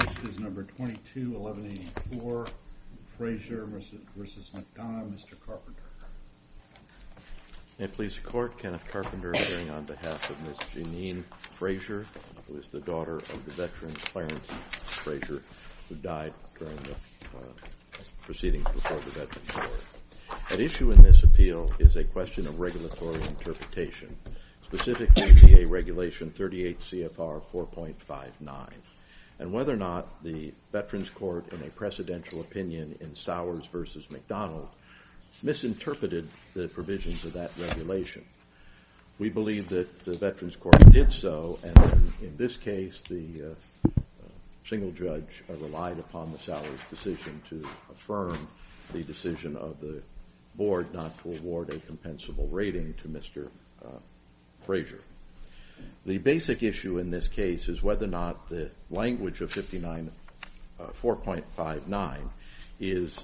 First is No. 22-1184, Frazier v. McDonough. Mr. Carpenter. May it please the Court, Kenneth Carpenter appearing on behalf of Ms. Jeanine Frazier, who is the daughter of the veteran Clarence Frazier, who died during the proceedings before the Veterans' Court. At issue in this appeal is a question of regulatory interpretation, specifically VA Regulation 38 CFR 4.59, and whether or not the Veterans' Court, in a precedential opinion in Sowers v. McDonough, misinterpreted the provisions of that regulation. We believe that the Veterans' Court did so, and in this case, the single judge relied upon the Sowers' decision to affirm the decision of the Board not to award a compensable rating to Mr. Frazier. The basic issue in this case is whether or not the language of 4.59 is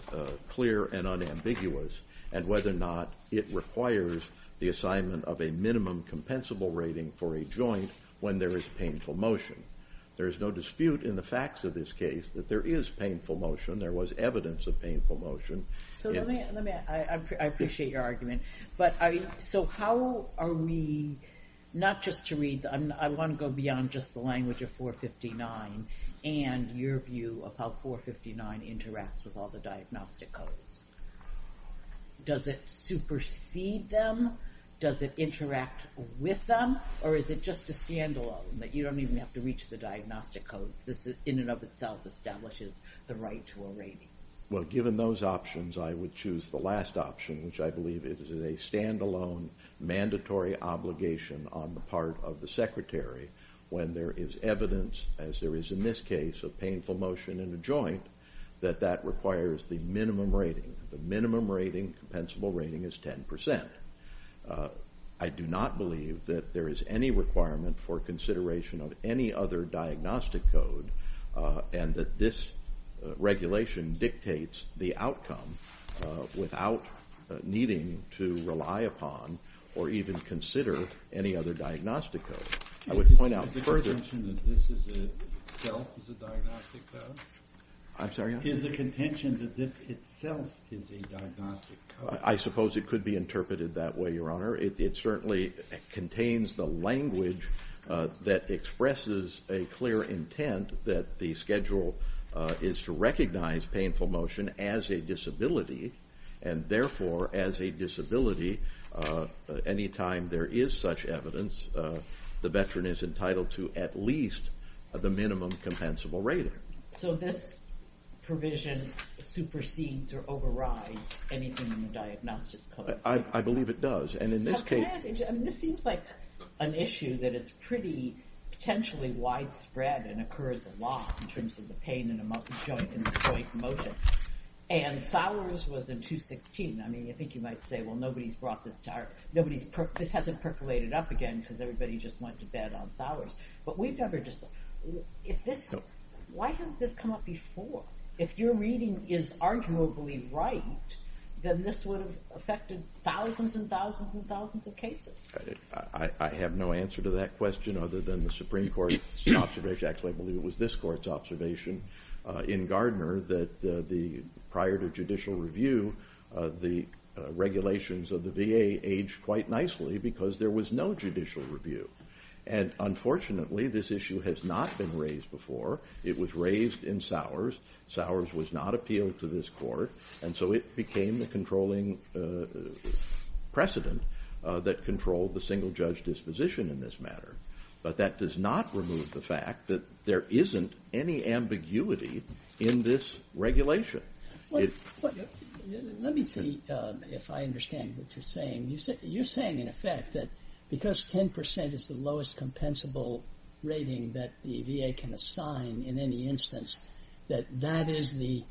clear and unambiguous, and whether or not it requires the assignment of a minimum compensable rating for a joint when there is painful motion. There is no dispute in the facts of this case that there is painful motion. There was evidence of painful motion. I appreciate your argument. So how are we, not just to read, I want to go beyond just the language of 4.59 and your view of how 4.59 interacts with all the diagnostic codes. Does it supersede them? Does it interact with them? Or is it just a standalone, that you don't even have to reach the diagnostic codes? This, in and of itself, establishes the right to a rating. Well, given those options, I would choose the last option, which I believe is a standalone mandatory obligation on the part of the Secretary when there is evidence, as there is in this case, of painful motion in a joint, that that requires the minimum rating. The minimum rating, compensable rating, is 10%. I do not believe that there is any requirement for consideration of any other diagnostic code and that this regulation dictates the outcome without needing to rely upon or even consider any other diagnostic code. I would point out further. Is the contention that this itself is a diagnostic code? I'm sorry, yes? Is the contention that this itself is a diagnostic code? I suppose it could be interpreted that way, Your Honor. It certainly contains the language that expresses a clear intent that the schedule is to recognize painful motion as a disability, and therefore as a disability anytime there is such evidence, the veteran is entitled to at least the minimum compensable rating. So this provision supersedes or overrides anything in the diagnostic code? I believe it does. This seems like an issue that is pretty potentially widespread and occurs a lot in terms of the pain in the joint motion. And Sowers was in 216. I mean, I think you might say, well, nobody's brought this to our, this hasn't percolated up again because everybody just went to bed on Sowers. But we've never just, if this, why hasn't this come up before? If your reading is arguably right, then this would have affected thousands and thousands and thousands of cases. I have no answer to that question other than the Supreme Court's observation. Actually, I believe it was this Court's observation in Gardner that prior to judicial review, the regulations of the VA aged quite nicely because there was no judicial review. And unfortunately, this issue has not been raised before. It was raised in Sowers. Sowers was not appealed to this Court. And so it became the controlling precedent that controlled the single-judge disposition in this matter. But that does not remove the fact that there isn't any ambiguity in this regulation. Let me see if I understand what you're saying. You're saying, in effect, that because 10% is the lowest compensable rating that the VA can assign in any instance, that that is the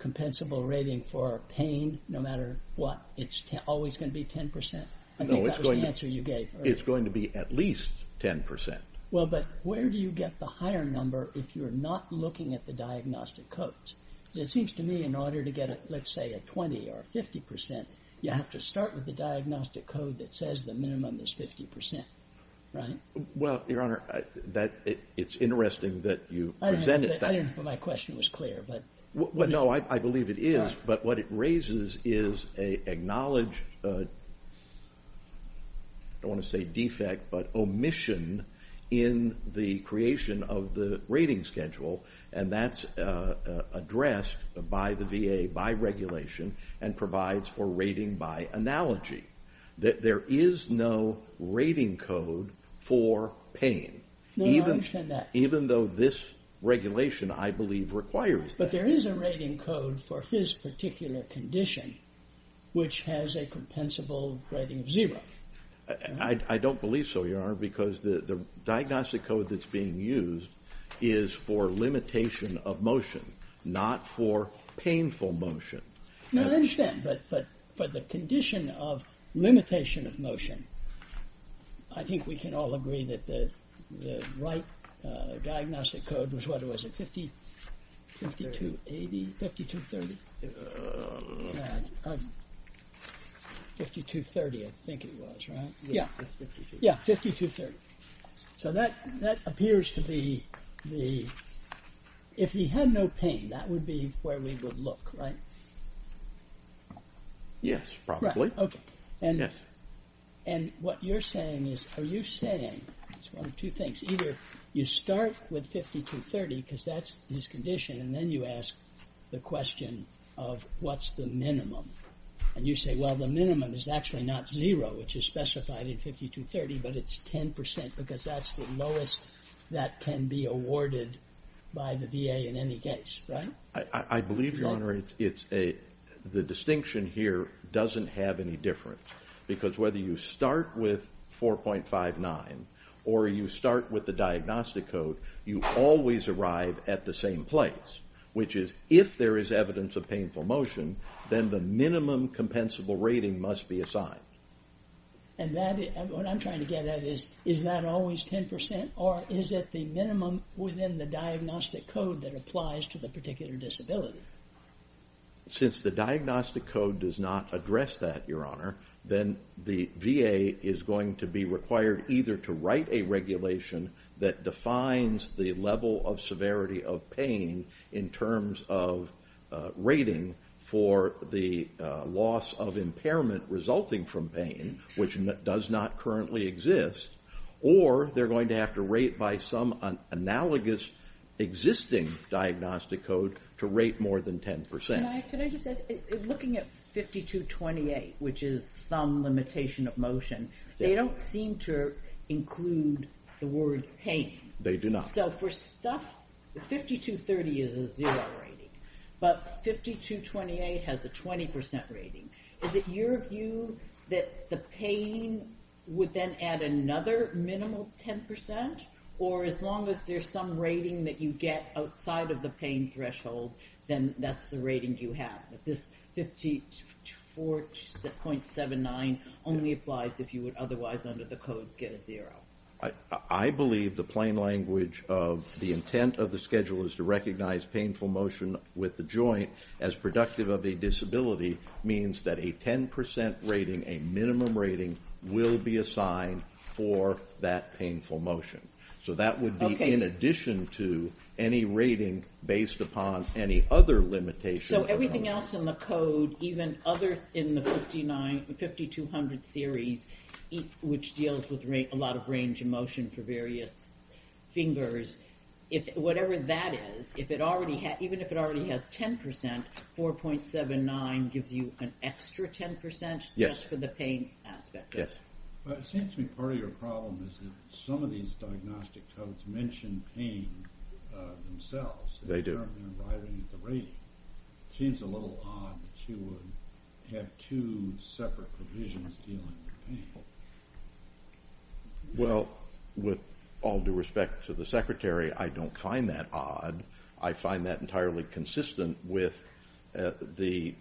compensable rating for pain no matter what. It's always going to be 10%. I think that was the answer you gave earlier. It's going to be at least 10%. Well, but where do you get the higher number if you're not looking at the diagnostic codes? It seems to me in order to get, let's say, a 20% or a 50%, you have to start with the diagnostic code that says the minimum is 50%, right? Well, Your Honor, it's interesting that you presented that. I didn't know if my question was clear. No, I believe it is. But what it raises is an acknowledged, I don't want to say defect, but omission in the creation of the rating schedule. And that's addressed by the VA by regulation and provides for rating by analogy. There is no rating code for pain. No, I understand that. Even though this regulation, I believe, requires that. But there is a rating code for his particular condition which has a compensable rating of zero. I don't believe so, Your Honor, because the diagnostic code that's being used is for limitation of motion, not for painful motion. No, I understand. But for the condition of limitation of motion, I think we can all agree that the right diagnostic code was, what was it? 5,280? 5,230? 5,230, I think it was, right? Yeah. Yeah, 5,230. So that appears to be the... Yes, probably. Right, okay. Yes. And what you're saying is, are you saying, it's one of two things, either you start with 5,230 because that's his condition and then you ask the question of what's the minimum. And you say, well, the minimum is actually not zero, which is specified in 5,230, but it's 10% because that's the lowest that can be awarded by the VA in any case, right? I believe, Your Honor, the distinction here doesn't have any difference because whether you start with 4.59 or you start with the diagnostic code, you always arrive at the same place, which is if there is evidence of painful motion, then the minimum compensable rating must be assigned. And what I'm trying to get at is, is that always 10% or is it the minimum within the diagnostic code that applies to the particular disability? Since the diagnostic code does not address that, Your Honor, then the VA is going to be required either to write a regulation that defines the level of severity of pain in terms of rating for the loss of impairment resulting from pain, which does not currently exist, or they're going to have to rate by some analogous existing diagnostic code to rate more than 10%. Can I just ask, looking at 5,228, which is some limitation of motion, they don't seem to include the word pain. They do not. So for stuff, 5,230 is a zero rating, but 5,228 has a 20% rating. Is it your view that the pain would then add another minimal 10% or as long as there's some rating that you get outside of the pain threshold, then that's the rating you have, that this 54.79 only applies if you would otherwise under the codes get a zero? I believe the plain language of the intent of the schedule is to recognize painful motion with the joint as productive of a disability means that a 10% rating, a minimum rating, will be assigned for that painful motion. So that would be in addition to any rating based upon any other limitation. So everything else in the code, even other than the 5,200 series, which deals with a lot of range of motion for various fingers, whatever that is, even if it already has 10%, 4.79 gives you an extra 10% just for the pain aspect. Yes. It seems to me part of your problem is that some of these diagnostic codes mention pain themselves. They do. It seems a little odd to have two separate provisions dealing with pain. Well, with all due respect to the secretary, I don't find that odd. I find that entirely consistent with the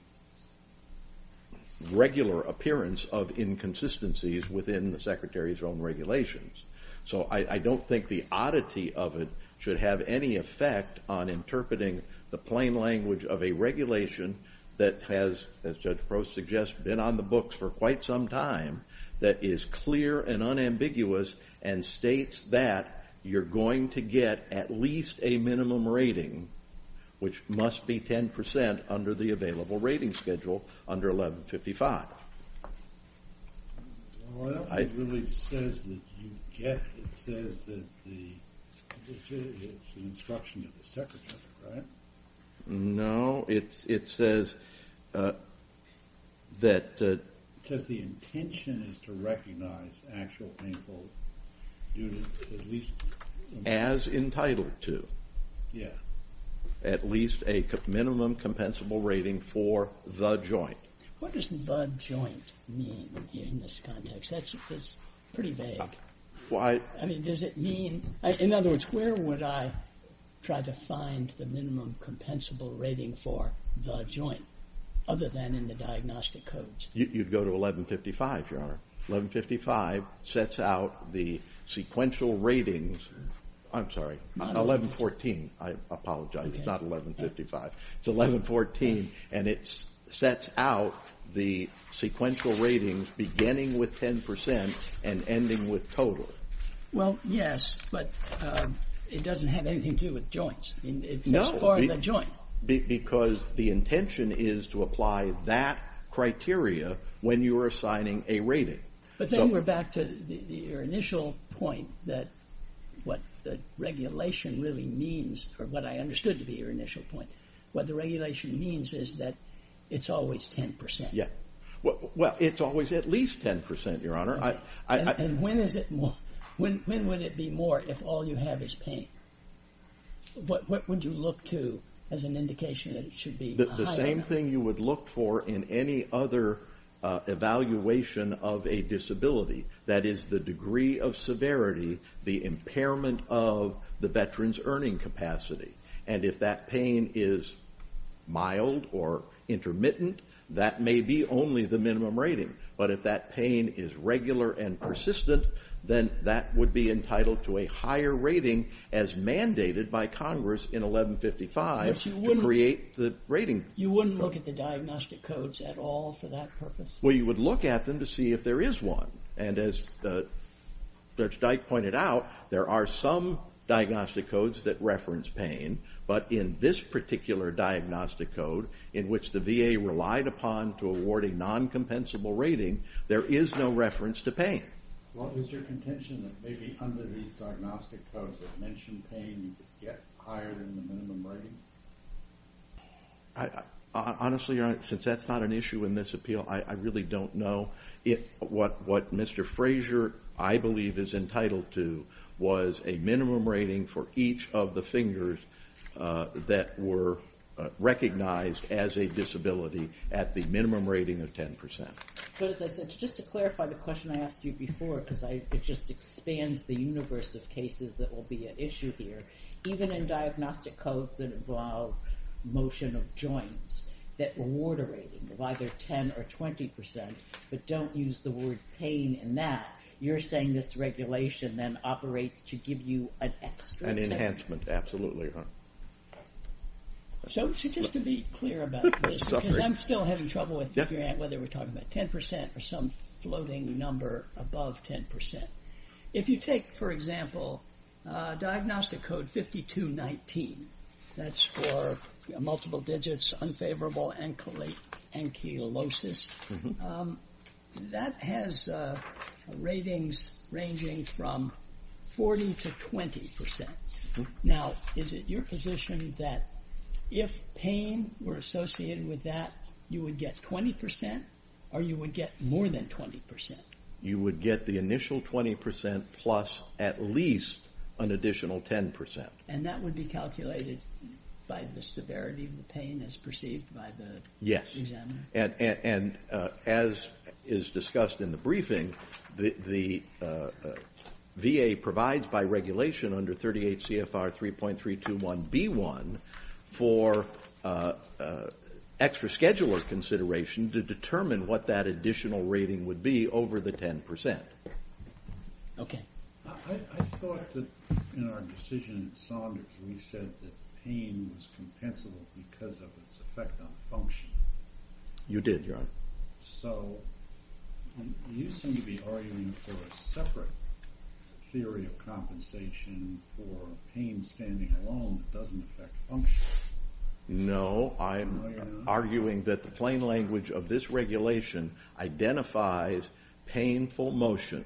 regular appearance of inconsistencies within the secretary's own regulations. So I don't think the oddity of it should have any effect on interpreting the plain language of a regulation that has, as Judge Crow suggests, been on the books for quite some time, that is clear and unambiguous and states that you're going to get at least a minimum rating, which must be 10% under the available rating schedule under 1155. Well, I don't think it really says that you get it. It says that the instruction of the secretary, right? No. No, it says that the intention is to recognize actual painful due to at least As entitled to. Yeah. At least a minimum compensable rating for the joint. What does the joint mean in this context? That's pretty vague. Why? I mean, does it mean, in other words, where would I try to find the minimum compensable rating for the joint other than in the diagnostic codes? You'd go to 1155, Your Honor. 1155 sets out the sequential ratings. I'm sorry, 1114. I apologize. It's not 1155. It's 1114, and it sets out the sequential ratings beginning with 10% and ending with total. Well, yes, but it doesn't have anything to do with joints. It's not part of the joint. Because the intention is to apply that criteria when you're assigning a rating. But then we're back to your initial point that what the regulation really means, or what I understood to be your initial point. What the regulation means is that it's always 10%. Yeah. Well, it's always at least 10%, Your Honor. And when is it more? When would it be more if all you have is pain? What would you look to as an indication that it should be higher? The same thing you would look for in any other evaluation of a disability. That is the degree of severity, the impairment of the veteran's earning capacity. And if that pain is mild or intermittent, that may be only the minimum rating. But if that pain is regular and persistent, then that would be entitled to a higher rating as mandated by Congress in 1155 to create the rating. You wouldn't look at the diagnostic codes at all for that purpose? Well, you would look at them to see if there is one. And as Judge Dyke pointed out, there are some diagnostic codes that reference pain. But in this particular diagnostic code, in which the VA relied upon to award a non-compensable rating, there is no reference to pain. Well, is there contention that maybe under these diagnostic codes that mention pain you could get higher than the minimum rating? Honestly, Your Honor, since that's not an issue in this appeal, I really don't know. What Mr. Frazier, I believe, is entitled to was a minimum rating for each of the fingers that were recognized as a disability at the minimum rating of 10%. But as I said, just to clarify the question I asked you before, because it just expands the universe of cases that will be an issue here, even in diagnostic codes that involve motion of joints, that award a rating of either 10% or 20%, but don't use the word pain in that, you're saying this regulation then operates to give you an extra 10%. An enhancement, absolutely, Your Honor. So just to be clear about this, because I'm still having trouble with whether we're talking about 10% or some floating number above 10%. If you take, for example, diagnostic code 5219, that's for multiple digits, unfavorable ankylosis, that has ratings ranging from 40% to 20%. Now, is it your position that if pain were associated with that, you would get 20% or you would get more than 20%? You would get the initial 20% plus at least an additional 10%. And that would be calculated by the severity of the pain as perceived by the examiner? And as is discussed in the briefing, the VA provides by regulation under 38 CFR 3.321B1 for extra scheduler consideration to determine what that additional rating would be over the 10%. Okay. I thought that in our decision at Saunders, we said that pain was compensable because of its effect on function. You did, Your Honor. So you seem to be arguing for a separate theory of compensation for pain standing alone that doesn't affect function. No, I'm arguing that the plain language of this regulation identifies painful motion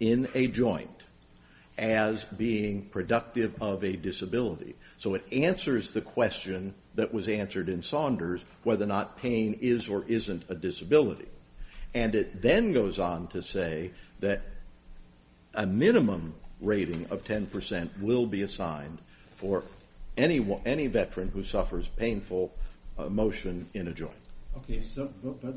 in a joint as being productive of a disability. So it answers the question that was answered in Saunders, whether or not pain is or isn't a disability. And it then goes on to say that a minimum rating of 10% will be assigned for any veteran who suffers painful motion in a joint. Okay. But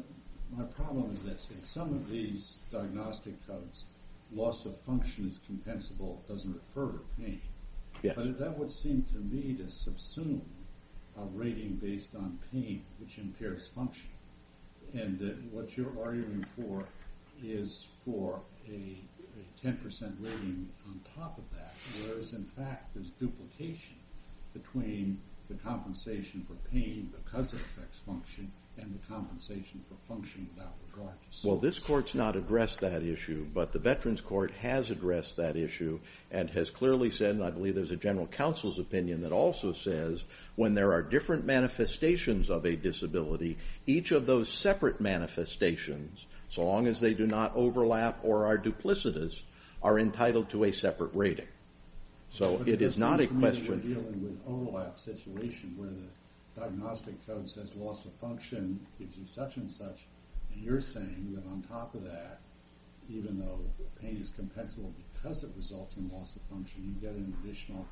my problem is this. In some of these diagnostic codes, loss of function is compensable. It doesn't refer to pain. But that would seem to me to subsume a rating based on pain, which impairs function. And what you're arguing for is for a 10% rating on top of that, whereas in fact there's duplication between the compensation for pain because it affects function and the compensation for function without regard. Well, this Court's not addressed that issue, but the Veterans Court has addressed that issue and has clearly said, and I believe there's a general counsel's opinion that also says, when there are different manifestations of a disability, each of those separate manifestations, so long as they do not overlap or are duplicitous, are entitled to a separate rating. So it is not a question. But you're dealing with an overlap situation where the diagnostic code says loss of function gives you such and such, and you're saying that on top of that, even though the pain is compensable because it results in loss of function, you get an additional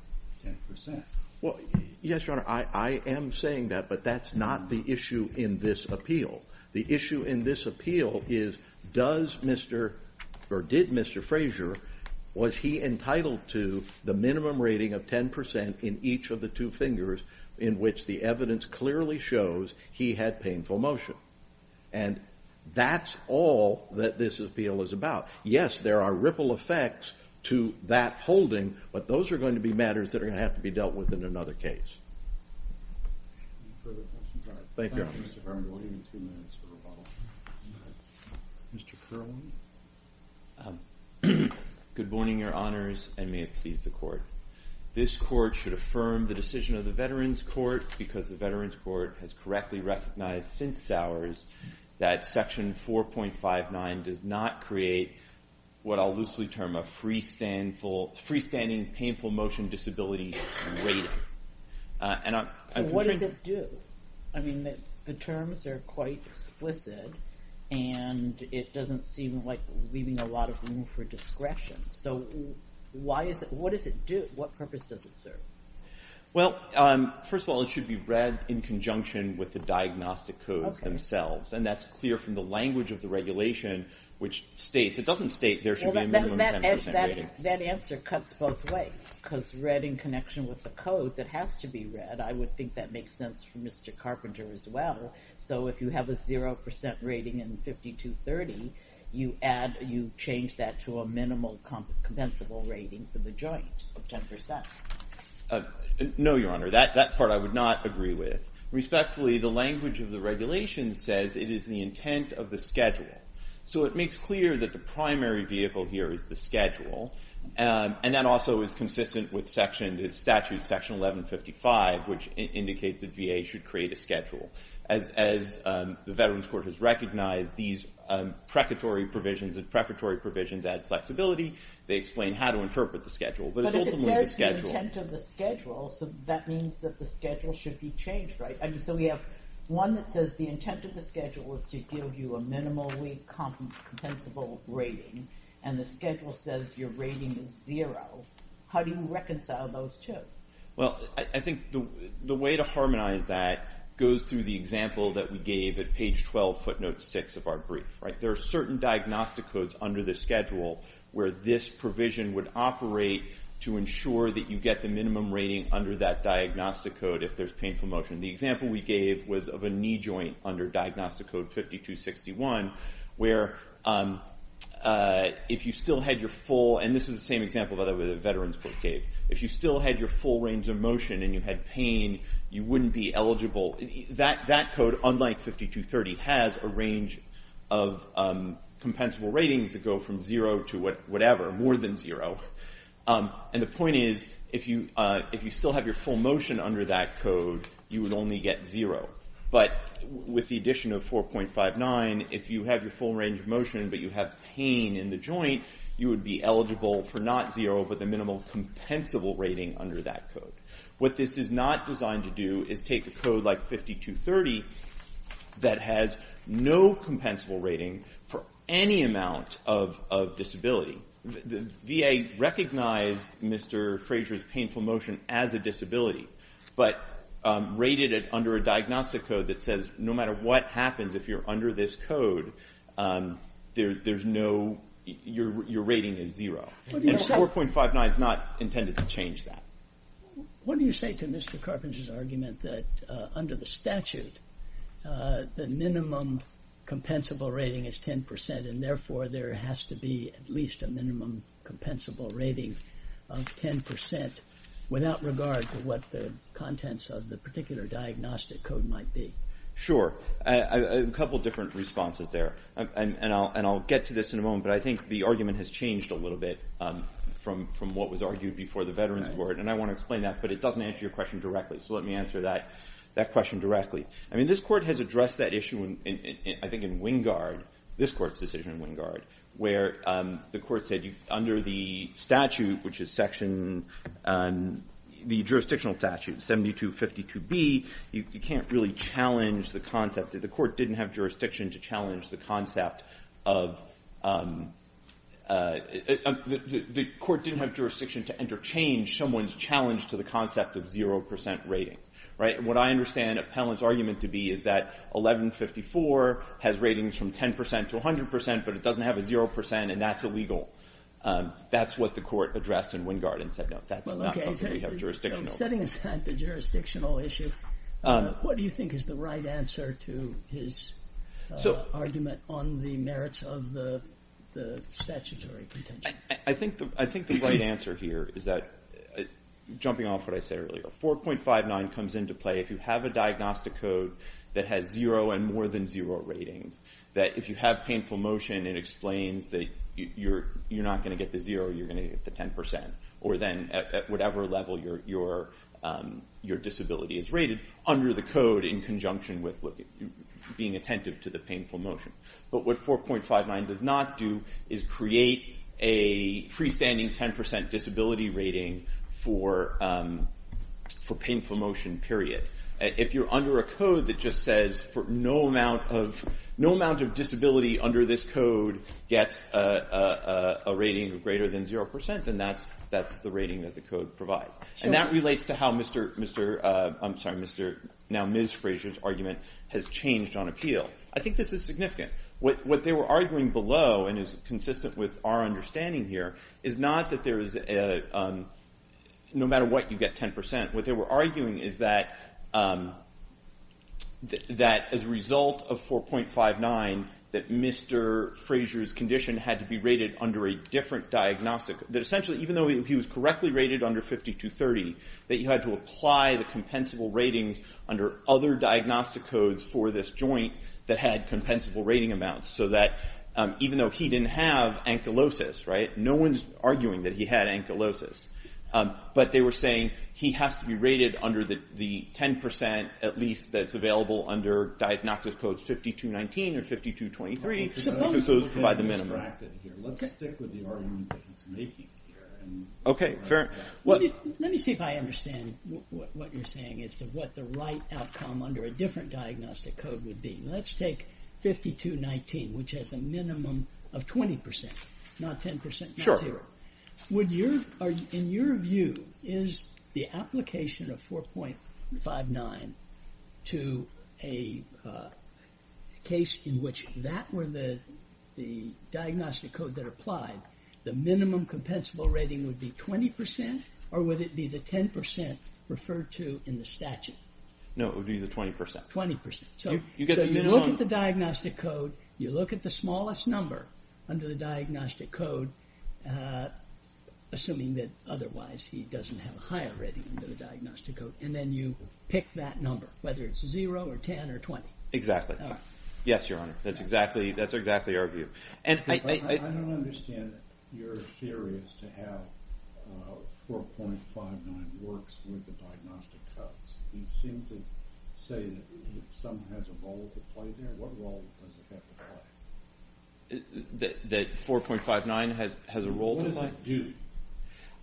10%. Well, yes, Your Honor, I am saying that, but that's not the issue in this appeal. The issue in this appeal is does Mr. or did Mr. Frazier, was he entitled to the minimum rating of 10% in each of the two fingers in which the evidence clearly shows he had painful motion? And that's all that this appeal is about. Yes, there are ripple effects to that holding, but those are going to be matters that are going to have to be dealt with in another case. Any further questions? Thank you, Your Honor. Thank you, Mr. Farmer. We'll give you two minutes for rebuttal. Mr. Kerwin. Good morning, Your Honors, and may it please the Court. This Court should affirm the decision of the Veterans Court because the Veterans Court has correctly recognized since Sowers that Section 4.59 does not create what I'll loosely term a freestanding painful motion disability rating. So what does it do? I mean, the terms are quite explicit, and it doesn't seem like leaving a lot of room for discretion. So what does it do? What purpose does it serve? Well, first of all, it should be read in conjunction with the diagnostic codes themselves, and that's clear from the language of the regulation, which states. It doesn't state there should be a minimum 10% rating. That answer cuts both ways because read in connection with the codes, it has to be read. But I would think that makes sense for Mr. Carpenter as well. So if you have a 0% rating in 5230, you change that to a minimal compensable rating for the joint of 10%. No, Your Honor. That part I would not agree with. Respectfully, the language of the regulation says it is the intent of the schedule. So it makes clear that the primary vehicle here is the schedule, and that also is consistent with statute section 1155, which indicates that VA should create a schedule. As the Veterans Court has recognized, these precatory provisions and preparatory provisions add flexibility. They explain how to interpret the schedule. But if it says the intent of the schedule, that means that the schedule should be changed, right? So we have one that says the intent of the schedule is to give you a minimally compensable rating, and the schedule says your rating is zero. How do you reconcile those two? Well, I think the way to harmonize that goes through the example that we gave at page 12, footnote 6 of our brief. There are certain diagnostic codes under the schedule where this provision would operate to ensure that you get the minimum rating under that diagnostic code if there's painful motion. The example we gave was of a knee joint under diagnostic code 5261, where if you still had your full... And this is the same example that the Veterans Court gave. If you still had your full range of motion and you had pain, you wouldn't be eligible. That code, unlike 5230, has a range of compensable ratings that go from zero to whatever, more than zero. And the point is, if you still have your full motion under that code, you would only get zero. But with the addition of 4.59, if you have your full range of motion but you have pain in the joint, you would be eligible for not zero but the minimal compensable rating under that code. What this is not designed to do is take a code like 5230 that has no compensable rating for any amount of disability. The VA recognized Mr. Fraser's painful motion as a disability but rated it under a diagnostic code that says no matter what happens, if you're under this code, there's no... your rating is zero. And 4.59 is not intended to change that. What do you say to Mr. Carpenter's argument that under the statute, the minimum compensable rating is 10% and therefore there has to be at least a minimum compensable rating of 10% without regard to what the contents of the particular diagnostic code might be? Sure. A couple of different responses there. And I'll get to this in a moment but I think the argument has changed a little bit from what was argued before the Veterans Board. And I want to explain that but it doesn't answer your question directly. So let me answer that question directly. I mean, this court has addressed that issue, I think, in Wingard, this court's decision in Wingard, where the court said under the statute, which is section... the jurisdictional statute, 7252B, you can't really challenge the concept... the court didn't have jurisdiction to challenge the concept of... the court didn't have jurisdiction to interchange someone's challenge to the concept of 0% rating. What I understand Appellant's argument to be is that 1154 has ratings from 10% to 100% but it doesn't have a 0% and that's illegal. That's what the court addressed in Wingard and said, no, that's not something we have jurisdictional... So setting aside the jurisdictional issue, what do you think is the right answer to his argument on the merits of the statutory contention? I think the right answer here is that, jumping off what I said earlier, 4.59 comes into play if you have a diagnostic code that has 0 and more than 0 ratings, that if you have painful motion it explains that you're not going to get the 0, you're going to get the 10%, or then at whatever level your disability is rated under the code in conjunction with being attentive to the painful motion. But what 4.59 does not do is create a freestanding 10% disability rating for painful motion, period. If you're under a code that just says, no amount of disability under this code gets a rating greater than 0%, then that's the rating that the code provides. And that relates to how now Ms. Fraser's argument has changed on appeal. I think this is significant. What they were arguing below, and is consistent with our understanding here, is not that no matter what you get 10%. What they were arguing is that as a result of 4.59, that Mr. Fraser's condition had to be rated under a different diagnostic... that essentially even though he was correctly rated under 52.30, that you had to apply the compensable ratings under other diagnostic codes for this joint that had compensable rating amounts, so that even though he didn't have ankylosis, no one's arguing that he had ankylosis. But they were saying he has to be rated under the 10%, at least, that's available under diagnostic codes 52.19 or 52.23, because those provide the minimum. Let's stick with the argument that he's making here. Okay, fair. Let me see if I understand what you're saying as to what the right outcome under a different diagnostic code would be. Let's take 52.19, which has a minimum of 20%, not 10%. Sure. In your view, is the application of 4.59 to a case in which that were the diagnostic code that applied, the minimum compensable rating would be 20% or would it be the 10% referred to in the statute? No, it would be the 20%. 20%. So you look at the diagnostic code, you look at the smallest number under the diagnostic code, assuming that otherwise he doesn't have a higher rating under the diagnostic code, and then you pick that number, whether it's 0 or 10 or 20. Exactly. Yes, Your Honor. That's exactly our view. I don't understand your theories to how 4.59 works with the diagnostic codes. You seem to say that some has a role to play there. What role does it have to play? That 4.59 has a role to play? What does that do?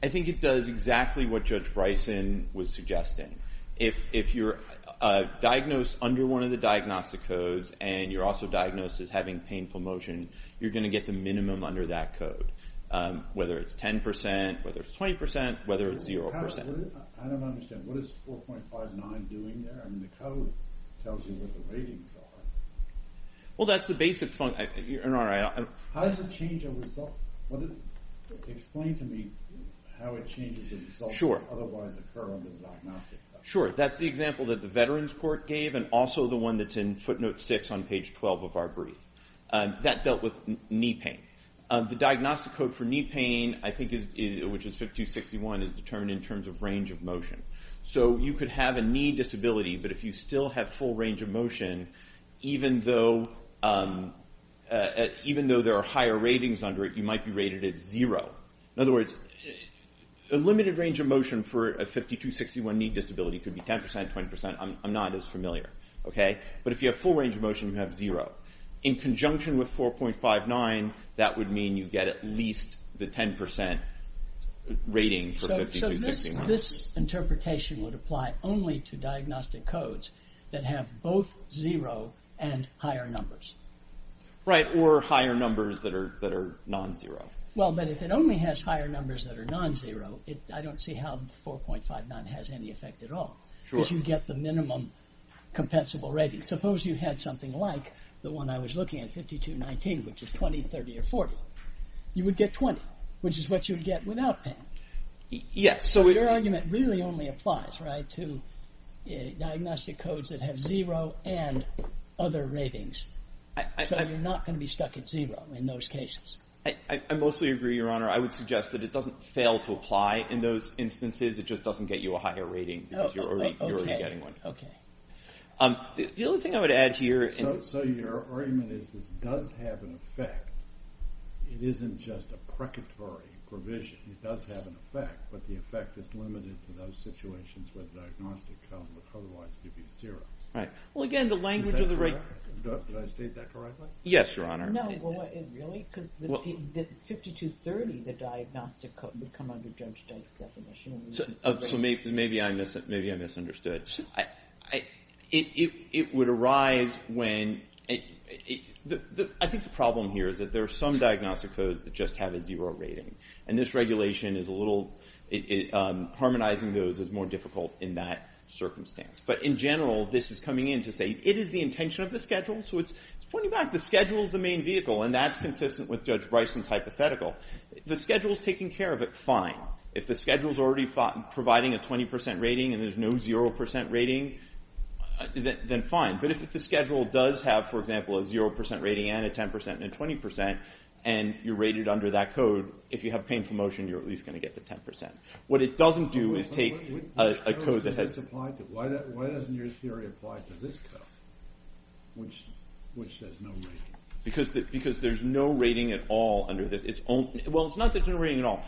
I think it does exactly what Judge Bryson was suggesting. If you're diagnosed under one of the diagnostic codes and you're also diagnosed as having painful motion, you're going to get the minimum under that code, whether it's 10%, whether it's 20%, whether it's 0%. I don't understand. What is 4.59 doing there? I mean, the code tells you what the ratings are. Well, that's the basic point, Your Honor. How does it change a result? Explain to me how it changes a result that would otherwise occur under the diagnostic code. Sure, that's the example that the Veterans Court gave and also the one that's in footnote 6 on page 12 of our brief. That dealt with knee pain. The diagnostic code for knee pain, which is 5261, is determined in terms of range of motion. So you could have a knee disability, but if you still have full range of motion, even though there are higher ratings under it, you might be rated at 0. In other words, a limited range of motion for a 5261 knee disability could be 10%, 20%. I'm not as familiar. But if you have full range of motion, you have 0. In conjunction with 4.59, that would mean you get at least the 10% rating for 5261. So this interpretation would apply only to diagnostic codes that have both 0 and higher numbers. Right, or higher numbers that are non-zero. Well, but if it only has higher numbers that are non-zero, I don't see how 4.59 has any effect at all. Because you get the minimum compensable rating. Suppose you had something like the one I was looking at, 5219, which is 20, 30, or 40. You would get 20, which is what you would get without pain. But your argument really only applies to diagnostic codes that have 0 and other ratings. So you're not going to be stuck at 0 in those cases. I mostly agree, Your Honor. I would suggest that it doesn't fail to apply in those instances. It just doesn't get you a higher rating because you're already getting one. The only thing I would add here... So your argument is this does have an effect. It isn't just a precatory provision. It does have an effect, but the effect is limited to those situations where the diagnostic code would otherwise give you 0. Well, again, the language of the rate... Did I state that correctly? Yes, Your Honor. No, really? Because 5230, the diagnostic code, would come under Judge Duke's definition. So maybe I misunderstood. It would arise when... I think the problem here is that there are some diagnostic codes that just have a 0 rating. And this regulation is a little... But in general, this is coming in to say it is the intention of the schedule. So it's pointing back. The schedule is the main vehicle, and that's consistent with Judge Bryson's hypothetical. The schedule is taking care of it fine. If the schedule is already providing a 20% rating and there's no 0% rating, then fine. But if the schedule does have, for example, a 0% rating and a 10% and a 20%, and you're rated under that code, if you have painful motion, you're at least going to get the 10%. What it doesn't do is take a code that has... Why doesn't your theory apply to this code, which has no rating? Because there's no rating at all under this. Well, it's not that there's no rating at all.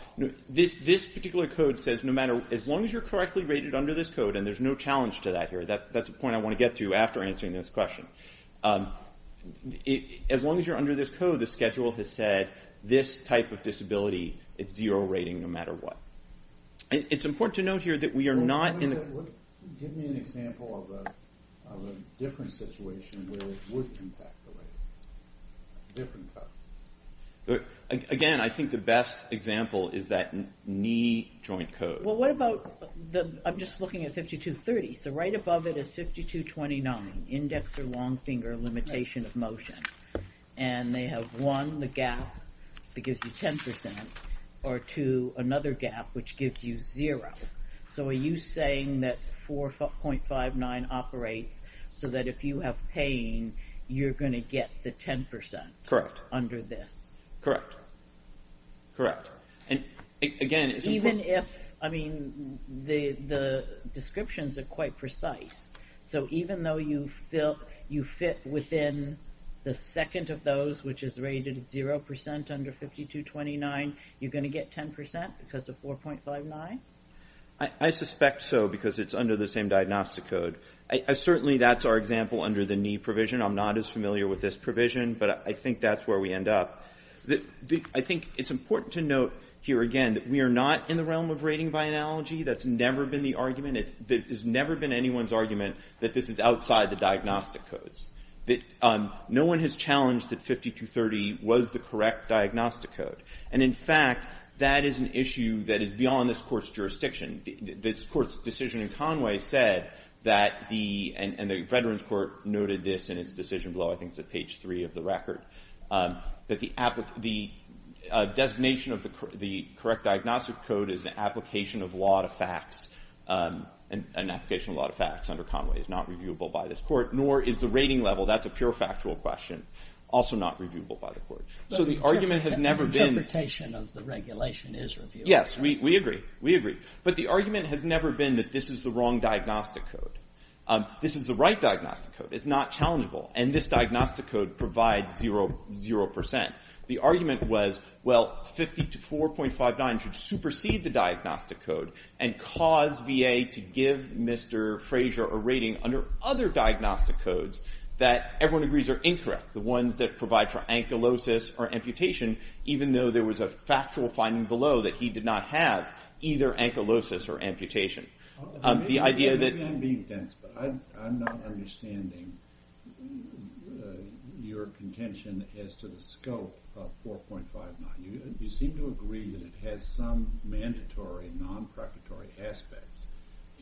This particular code says no matter... As long as you're correctly rated under this code, and there's no challenge to that here. That's a point I want to get to after answering this question. As long as you're under this code, the schedule has said this type of disability, it's zero rating no matter what. It's important to note here that we are not... Give me an example of a different situation where it would impact the rating. Different code. Again, I think the best example is that knee joint code. Well, what about... I'm just looking at 5230. So right above it is 5229, index or long finger, limitation of motion. And they have one, the gap, that gives you 10%. Or two, another gap, which gives you zero. So are you saying that 4.59 operates so that if you have pain, you're going to get the 10% under this? Correct. And again, it's important... Even if... I mean, the descriptions are quite precise. So even though you fit within the second of those, which is rated at 0% under 5229, you're going to get 10% because of 4.59? I suspect so, because it's under the same diagnostic code. Certainly that's our example under the knee provision. I'm not as familiar with this provision, but I think that's where we end up. I think it's important to note here again that we are not in the realm of rating by analogy. That's never been the argument. It has never been anyone's argument that this is outside the diagnostic codes. No one has challenged that 5230 was the correct diagnostic code. And in fact, that is an issue that is beyond this court's jurisdiction. This court's decision in Conway said that the... And the Veterans Court noted this in its decision below. I think it's at page 3 of the record. That the designation of the correct diagnostic code is an application of law to facts. An application of law to facts under Conway is not reviewable by this court, nor is the rating level. That's a pure factual question. Also not reviewable by the court. So the argument has never been... The interpretation of the regulation is reviewable. Yes, we agree. We agree. But the argument has never been that this is the wrong diagnostic code. This is the right diagnostic code. It's not challengeable. And this diagnostic code provides 0%. The argument was, well, 50 to 4.59 should supersede the diagnostic code and cause VA to give Mr. Frazier a rating under other diagnostic codes that everyone agrees are incorrect. The ones that provide for ankylosis or amputation, even though there was a factual finding below that he did not have either ankylosis or amputation. Maybe I'm being dense, but I'm not understanding your contention as to the scope of 4.59. You seem to agree that it has some mandatory and non-preparatory aspects.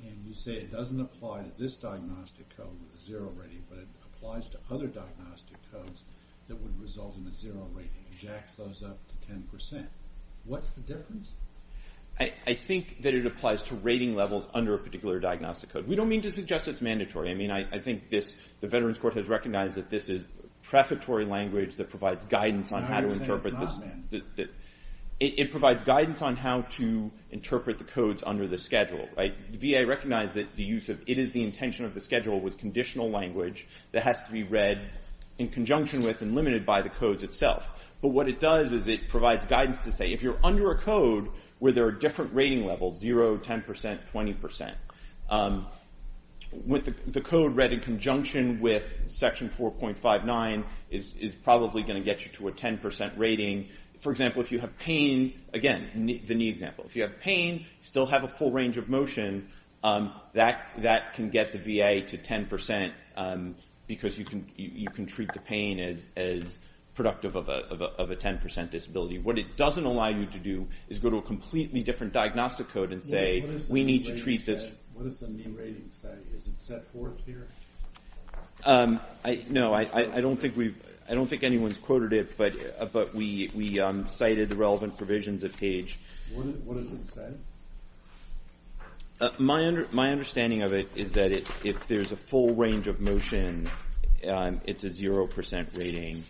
And you say it doesn't apply to this diagnostic code with a 0 rating, but it applies to other diagnostic codes that would result in a 0 rating, and jacks those up to 10%. What's the difference? I think that it applies to rating levels under a particular diagnostic code. We don't mean to suggest it's mandatory. I think the Veterans Court has recognized that this is prefatory language that provides guidance on how to interpret this. It provides guidance on how to interpret the codes under the schedule. The VA recognized that it is the intention of the schedule with conditional language that has to be read in conjunction with and limited by the codes itself. But what it does is it provides guidance to say if you're under a code where there are different rating levels, 0, 10%, 20%, the code read in conjunction with Section 4.59 is probably going to get you to a 10% rating. For example, if you have pain, again, the knee example, if you have pain, still have a full range of motion, that can get the VA to 10% because you can treat the pain as productive of a 10% disability. What it doesn't allow you to do is go to a completely different diagnostic code and say we need to treat this... What does the knee rating say? Is it set forth here? No, I don't think anyone's quoted it, but we cited the relevant provisions of PAGE. What does it say? My understanding of it is that if there's a full range of motion, it's a 0% rating.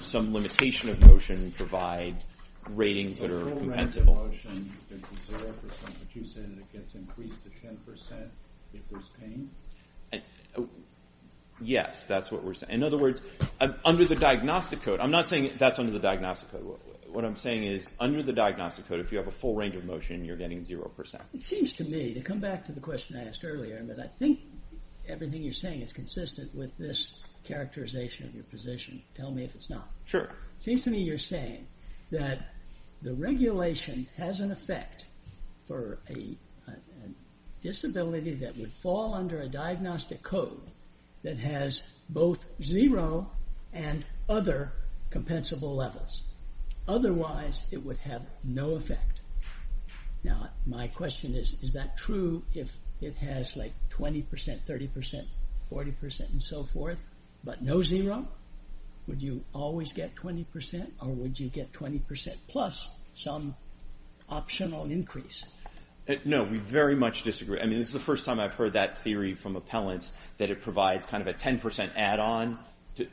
Some limitation of motion provides ratings that are compensable. A full range of motion is a 0%, but you're saying it gets increased to 10% if there's pain? Yes, that's what we're saying. In other words, under the diagnostic code, I'm not saying that's under the diagnostic code. What I'm saying is, under the diagnostic code, if you have a full range of motion, you're getting 0%. It seems to me, to come back to the question I asked earlier, I think everything you're saying is consistent with this characterization of your position. Tell me if it's not. It seems to me you're saying that the regulation has an effect for a disability that would fall under a diagnostic code that has both 0% and other compensable levels. Otherwise, it would have no effect. Now, my question is, is that true if it has, like, 20%, 30%, 40%, and so forth, but no 0%? Would you always get 20% or would you get 20% plus some optional increase? No, we very much disagree. I mean, this is the first time I've heard that theory from appellants that it provides kind of a 10% add-on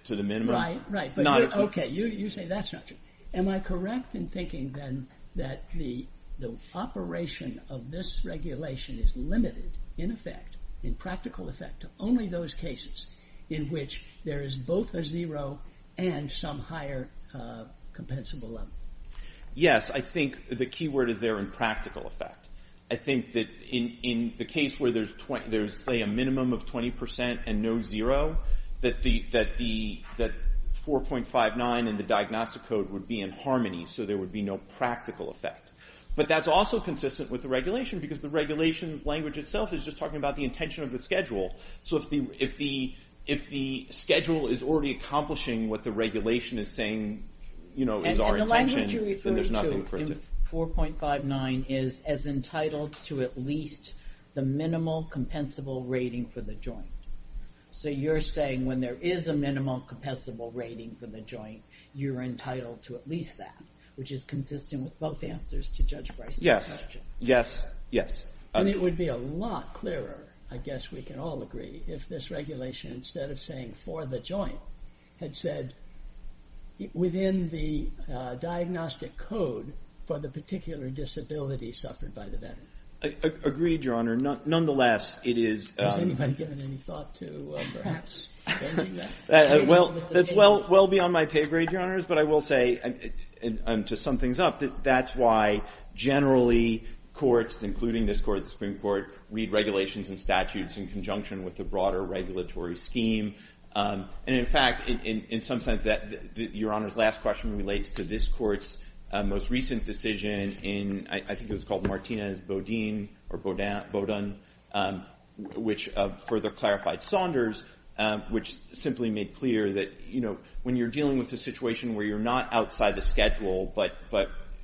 to the minimum. Right, right. Okay, you say that's not true. Am I correct in thinking, then, that the operation of this regulation is limited, in effect, in practical effect, to only those cases in which there is both a 0 and some higher compensable level? Yes, I think the key word is there in practical effect. I think that in the case where there's, say, a minimum of 20% and no 0, that 4.59 and the diagnostic code would be in harmony, so there would be no practical effect. But that's also consistent with the regulation because the regulation language itself is just talking about the intention of the schedule. So if the schedule is already accomplishing then there's nothing for it to do. So you say 4.59 is as entitled to at least the minimal compensable rating for the joint. So you're saying when there is a minimal compensable rating for the joint, you're entitled to at least that, which is consistent with both answers to Judge Bryce's question. Yes, yes, yes. And it would be a lot clearer, I guess we can all agree, if this regulation, instead of saying for the joint, had said within the diagnostic code for the particular disability suffered by the veteran. Agreed, Your Honor. Nonetheless, it is... Has anybody given any thought to perhaps changing that? That's well beyond my pay grade, Your Honors, but I will say, and to sum things up, that that's why generally courts, including this court, the Supreme Court, read regulations and statutes in conjunction with the broader regulatory scheme. And in fact, in some sense, Your Honor's last question relates to this court's most recent decision in, I think it was called Martinez-Bodine or Bodine, which further clarified Saunders, which simply made clear that, you know, when you're dealing with a situation where you're not outside the schedule, but,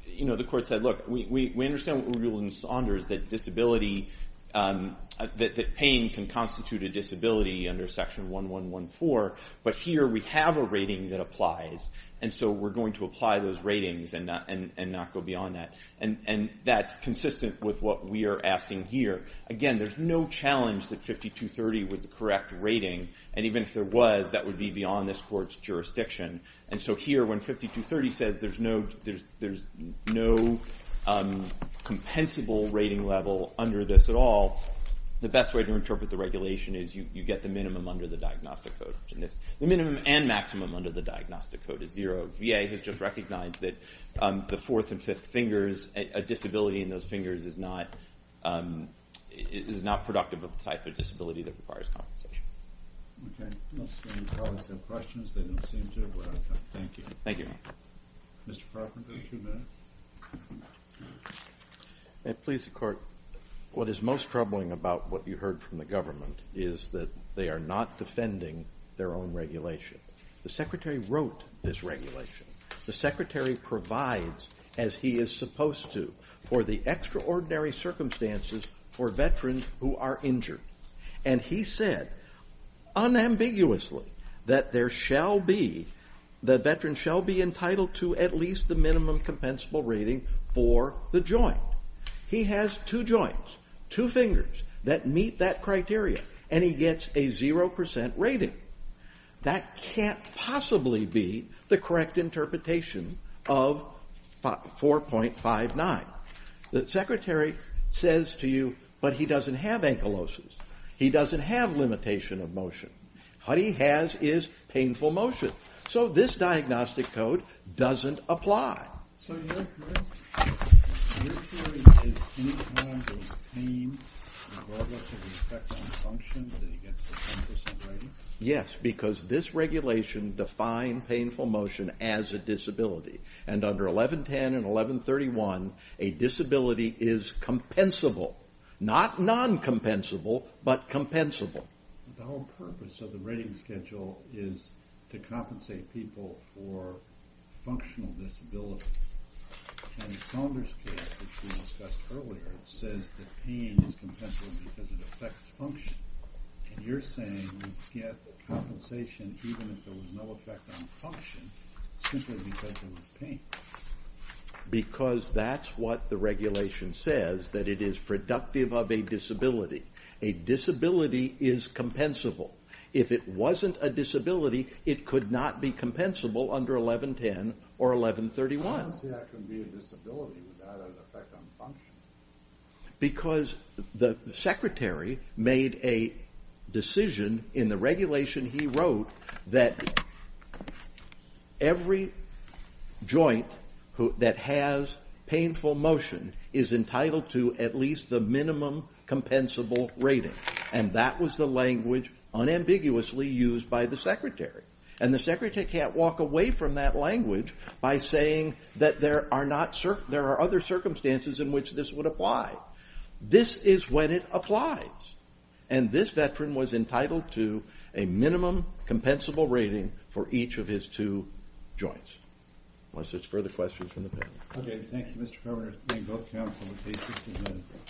you know, the court said, look, we understand what we're doing with Saunders, that disability, that pain can constitute a disability under Section 1114, but here we have a rating that applies, and so we're going to apply those ratings and not go beyond that. And that's consistent with what we are asking here. Again, there's no challenge that 5230 was the correct rating, and even if there was, that would be beyond this court's jurisdiction. And so here, when 5230 says there's no compensable rating level under this at all, the best way to interpret the regulation is you get the minimum under the Diagnostic Code. The minimum and maximum under the Diagnostic Code is zero. VA has just recognized that the fourth and fifth fingers, a disability in those fingers is not productive of the type of disability that requires compensation. Okay, let's see. Any colleagues have questions? They don't seem to, but I'll come. Thank you. Thank you. Mr. Parkin, please, two minutes. Please, your Court. What is most troubling about what you heard from the government is that they are not defending their own regulation. The Secretary wrote this regulation. The Secretary provides, as he is supposed to, for the extraordinary circumstances for veterans who are injured. And he said, unambiguously, that veterans shall be entitled to at least the minimum compensable rating for the joint. He has two joints, two fingers, that meet that criteria, and he gets a zero percent rating. That can't possibly be the correct interpretation of 4.59. The Secretary says to you, but he doesn't have ankylosis. He doesn't have limitation of motion. What he has is painful motion. So this Diagnostic Code doesn't apply. So your theory is any kind of pain regardless of the effect on function, that he gets a 10 percent rating? Yes, because this regulation defined painful motion as a disability. And under 1110 and 1131, a disability is compensable. Not non-compensable, but compensable. The whole purpose of the rating schedule is to compensate people for functional disabilities. And Saunders' case, which we discussed earlier, says that pain is compensable because it affects function. And you're saying you get compensation even if there was no effect on function, simply because there was pain. Because that's what the regulation says, that it is productive of a disability. A disability is compensable. If it wasn't a disability, it could not be compensable under 1110 or 1131. How can that be a disability without an effect on function? Because the Secretary made a decision in the regulation he wrote that every joint that has painful motion is entitled to at least the minimum compensable rating. And that was the language unambiguously used by the Secretary. And the Secretary can't walk away from that language by saying that there are other circumstances in which this would apply. This is when it applies. And this veteran was entitled to a minimum compensable rating for each of his two joints. Unless there's further questions from the panel. Okay, thank you, Mr. Perlman.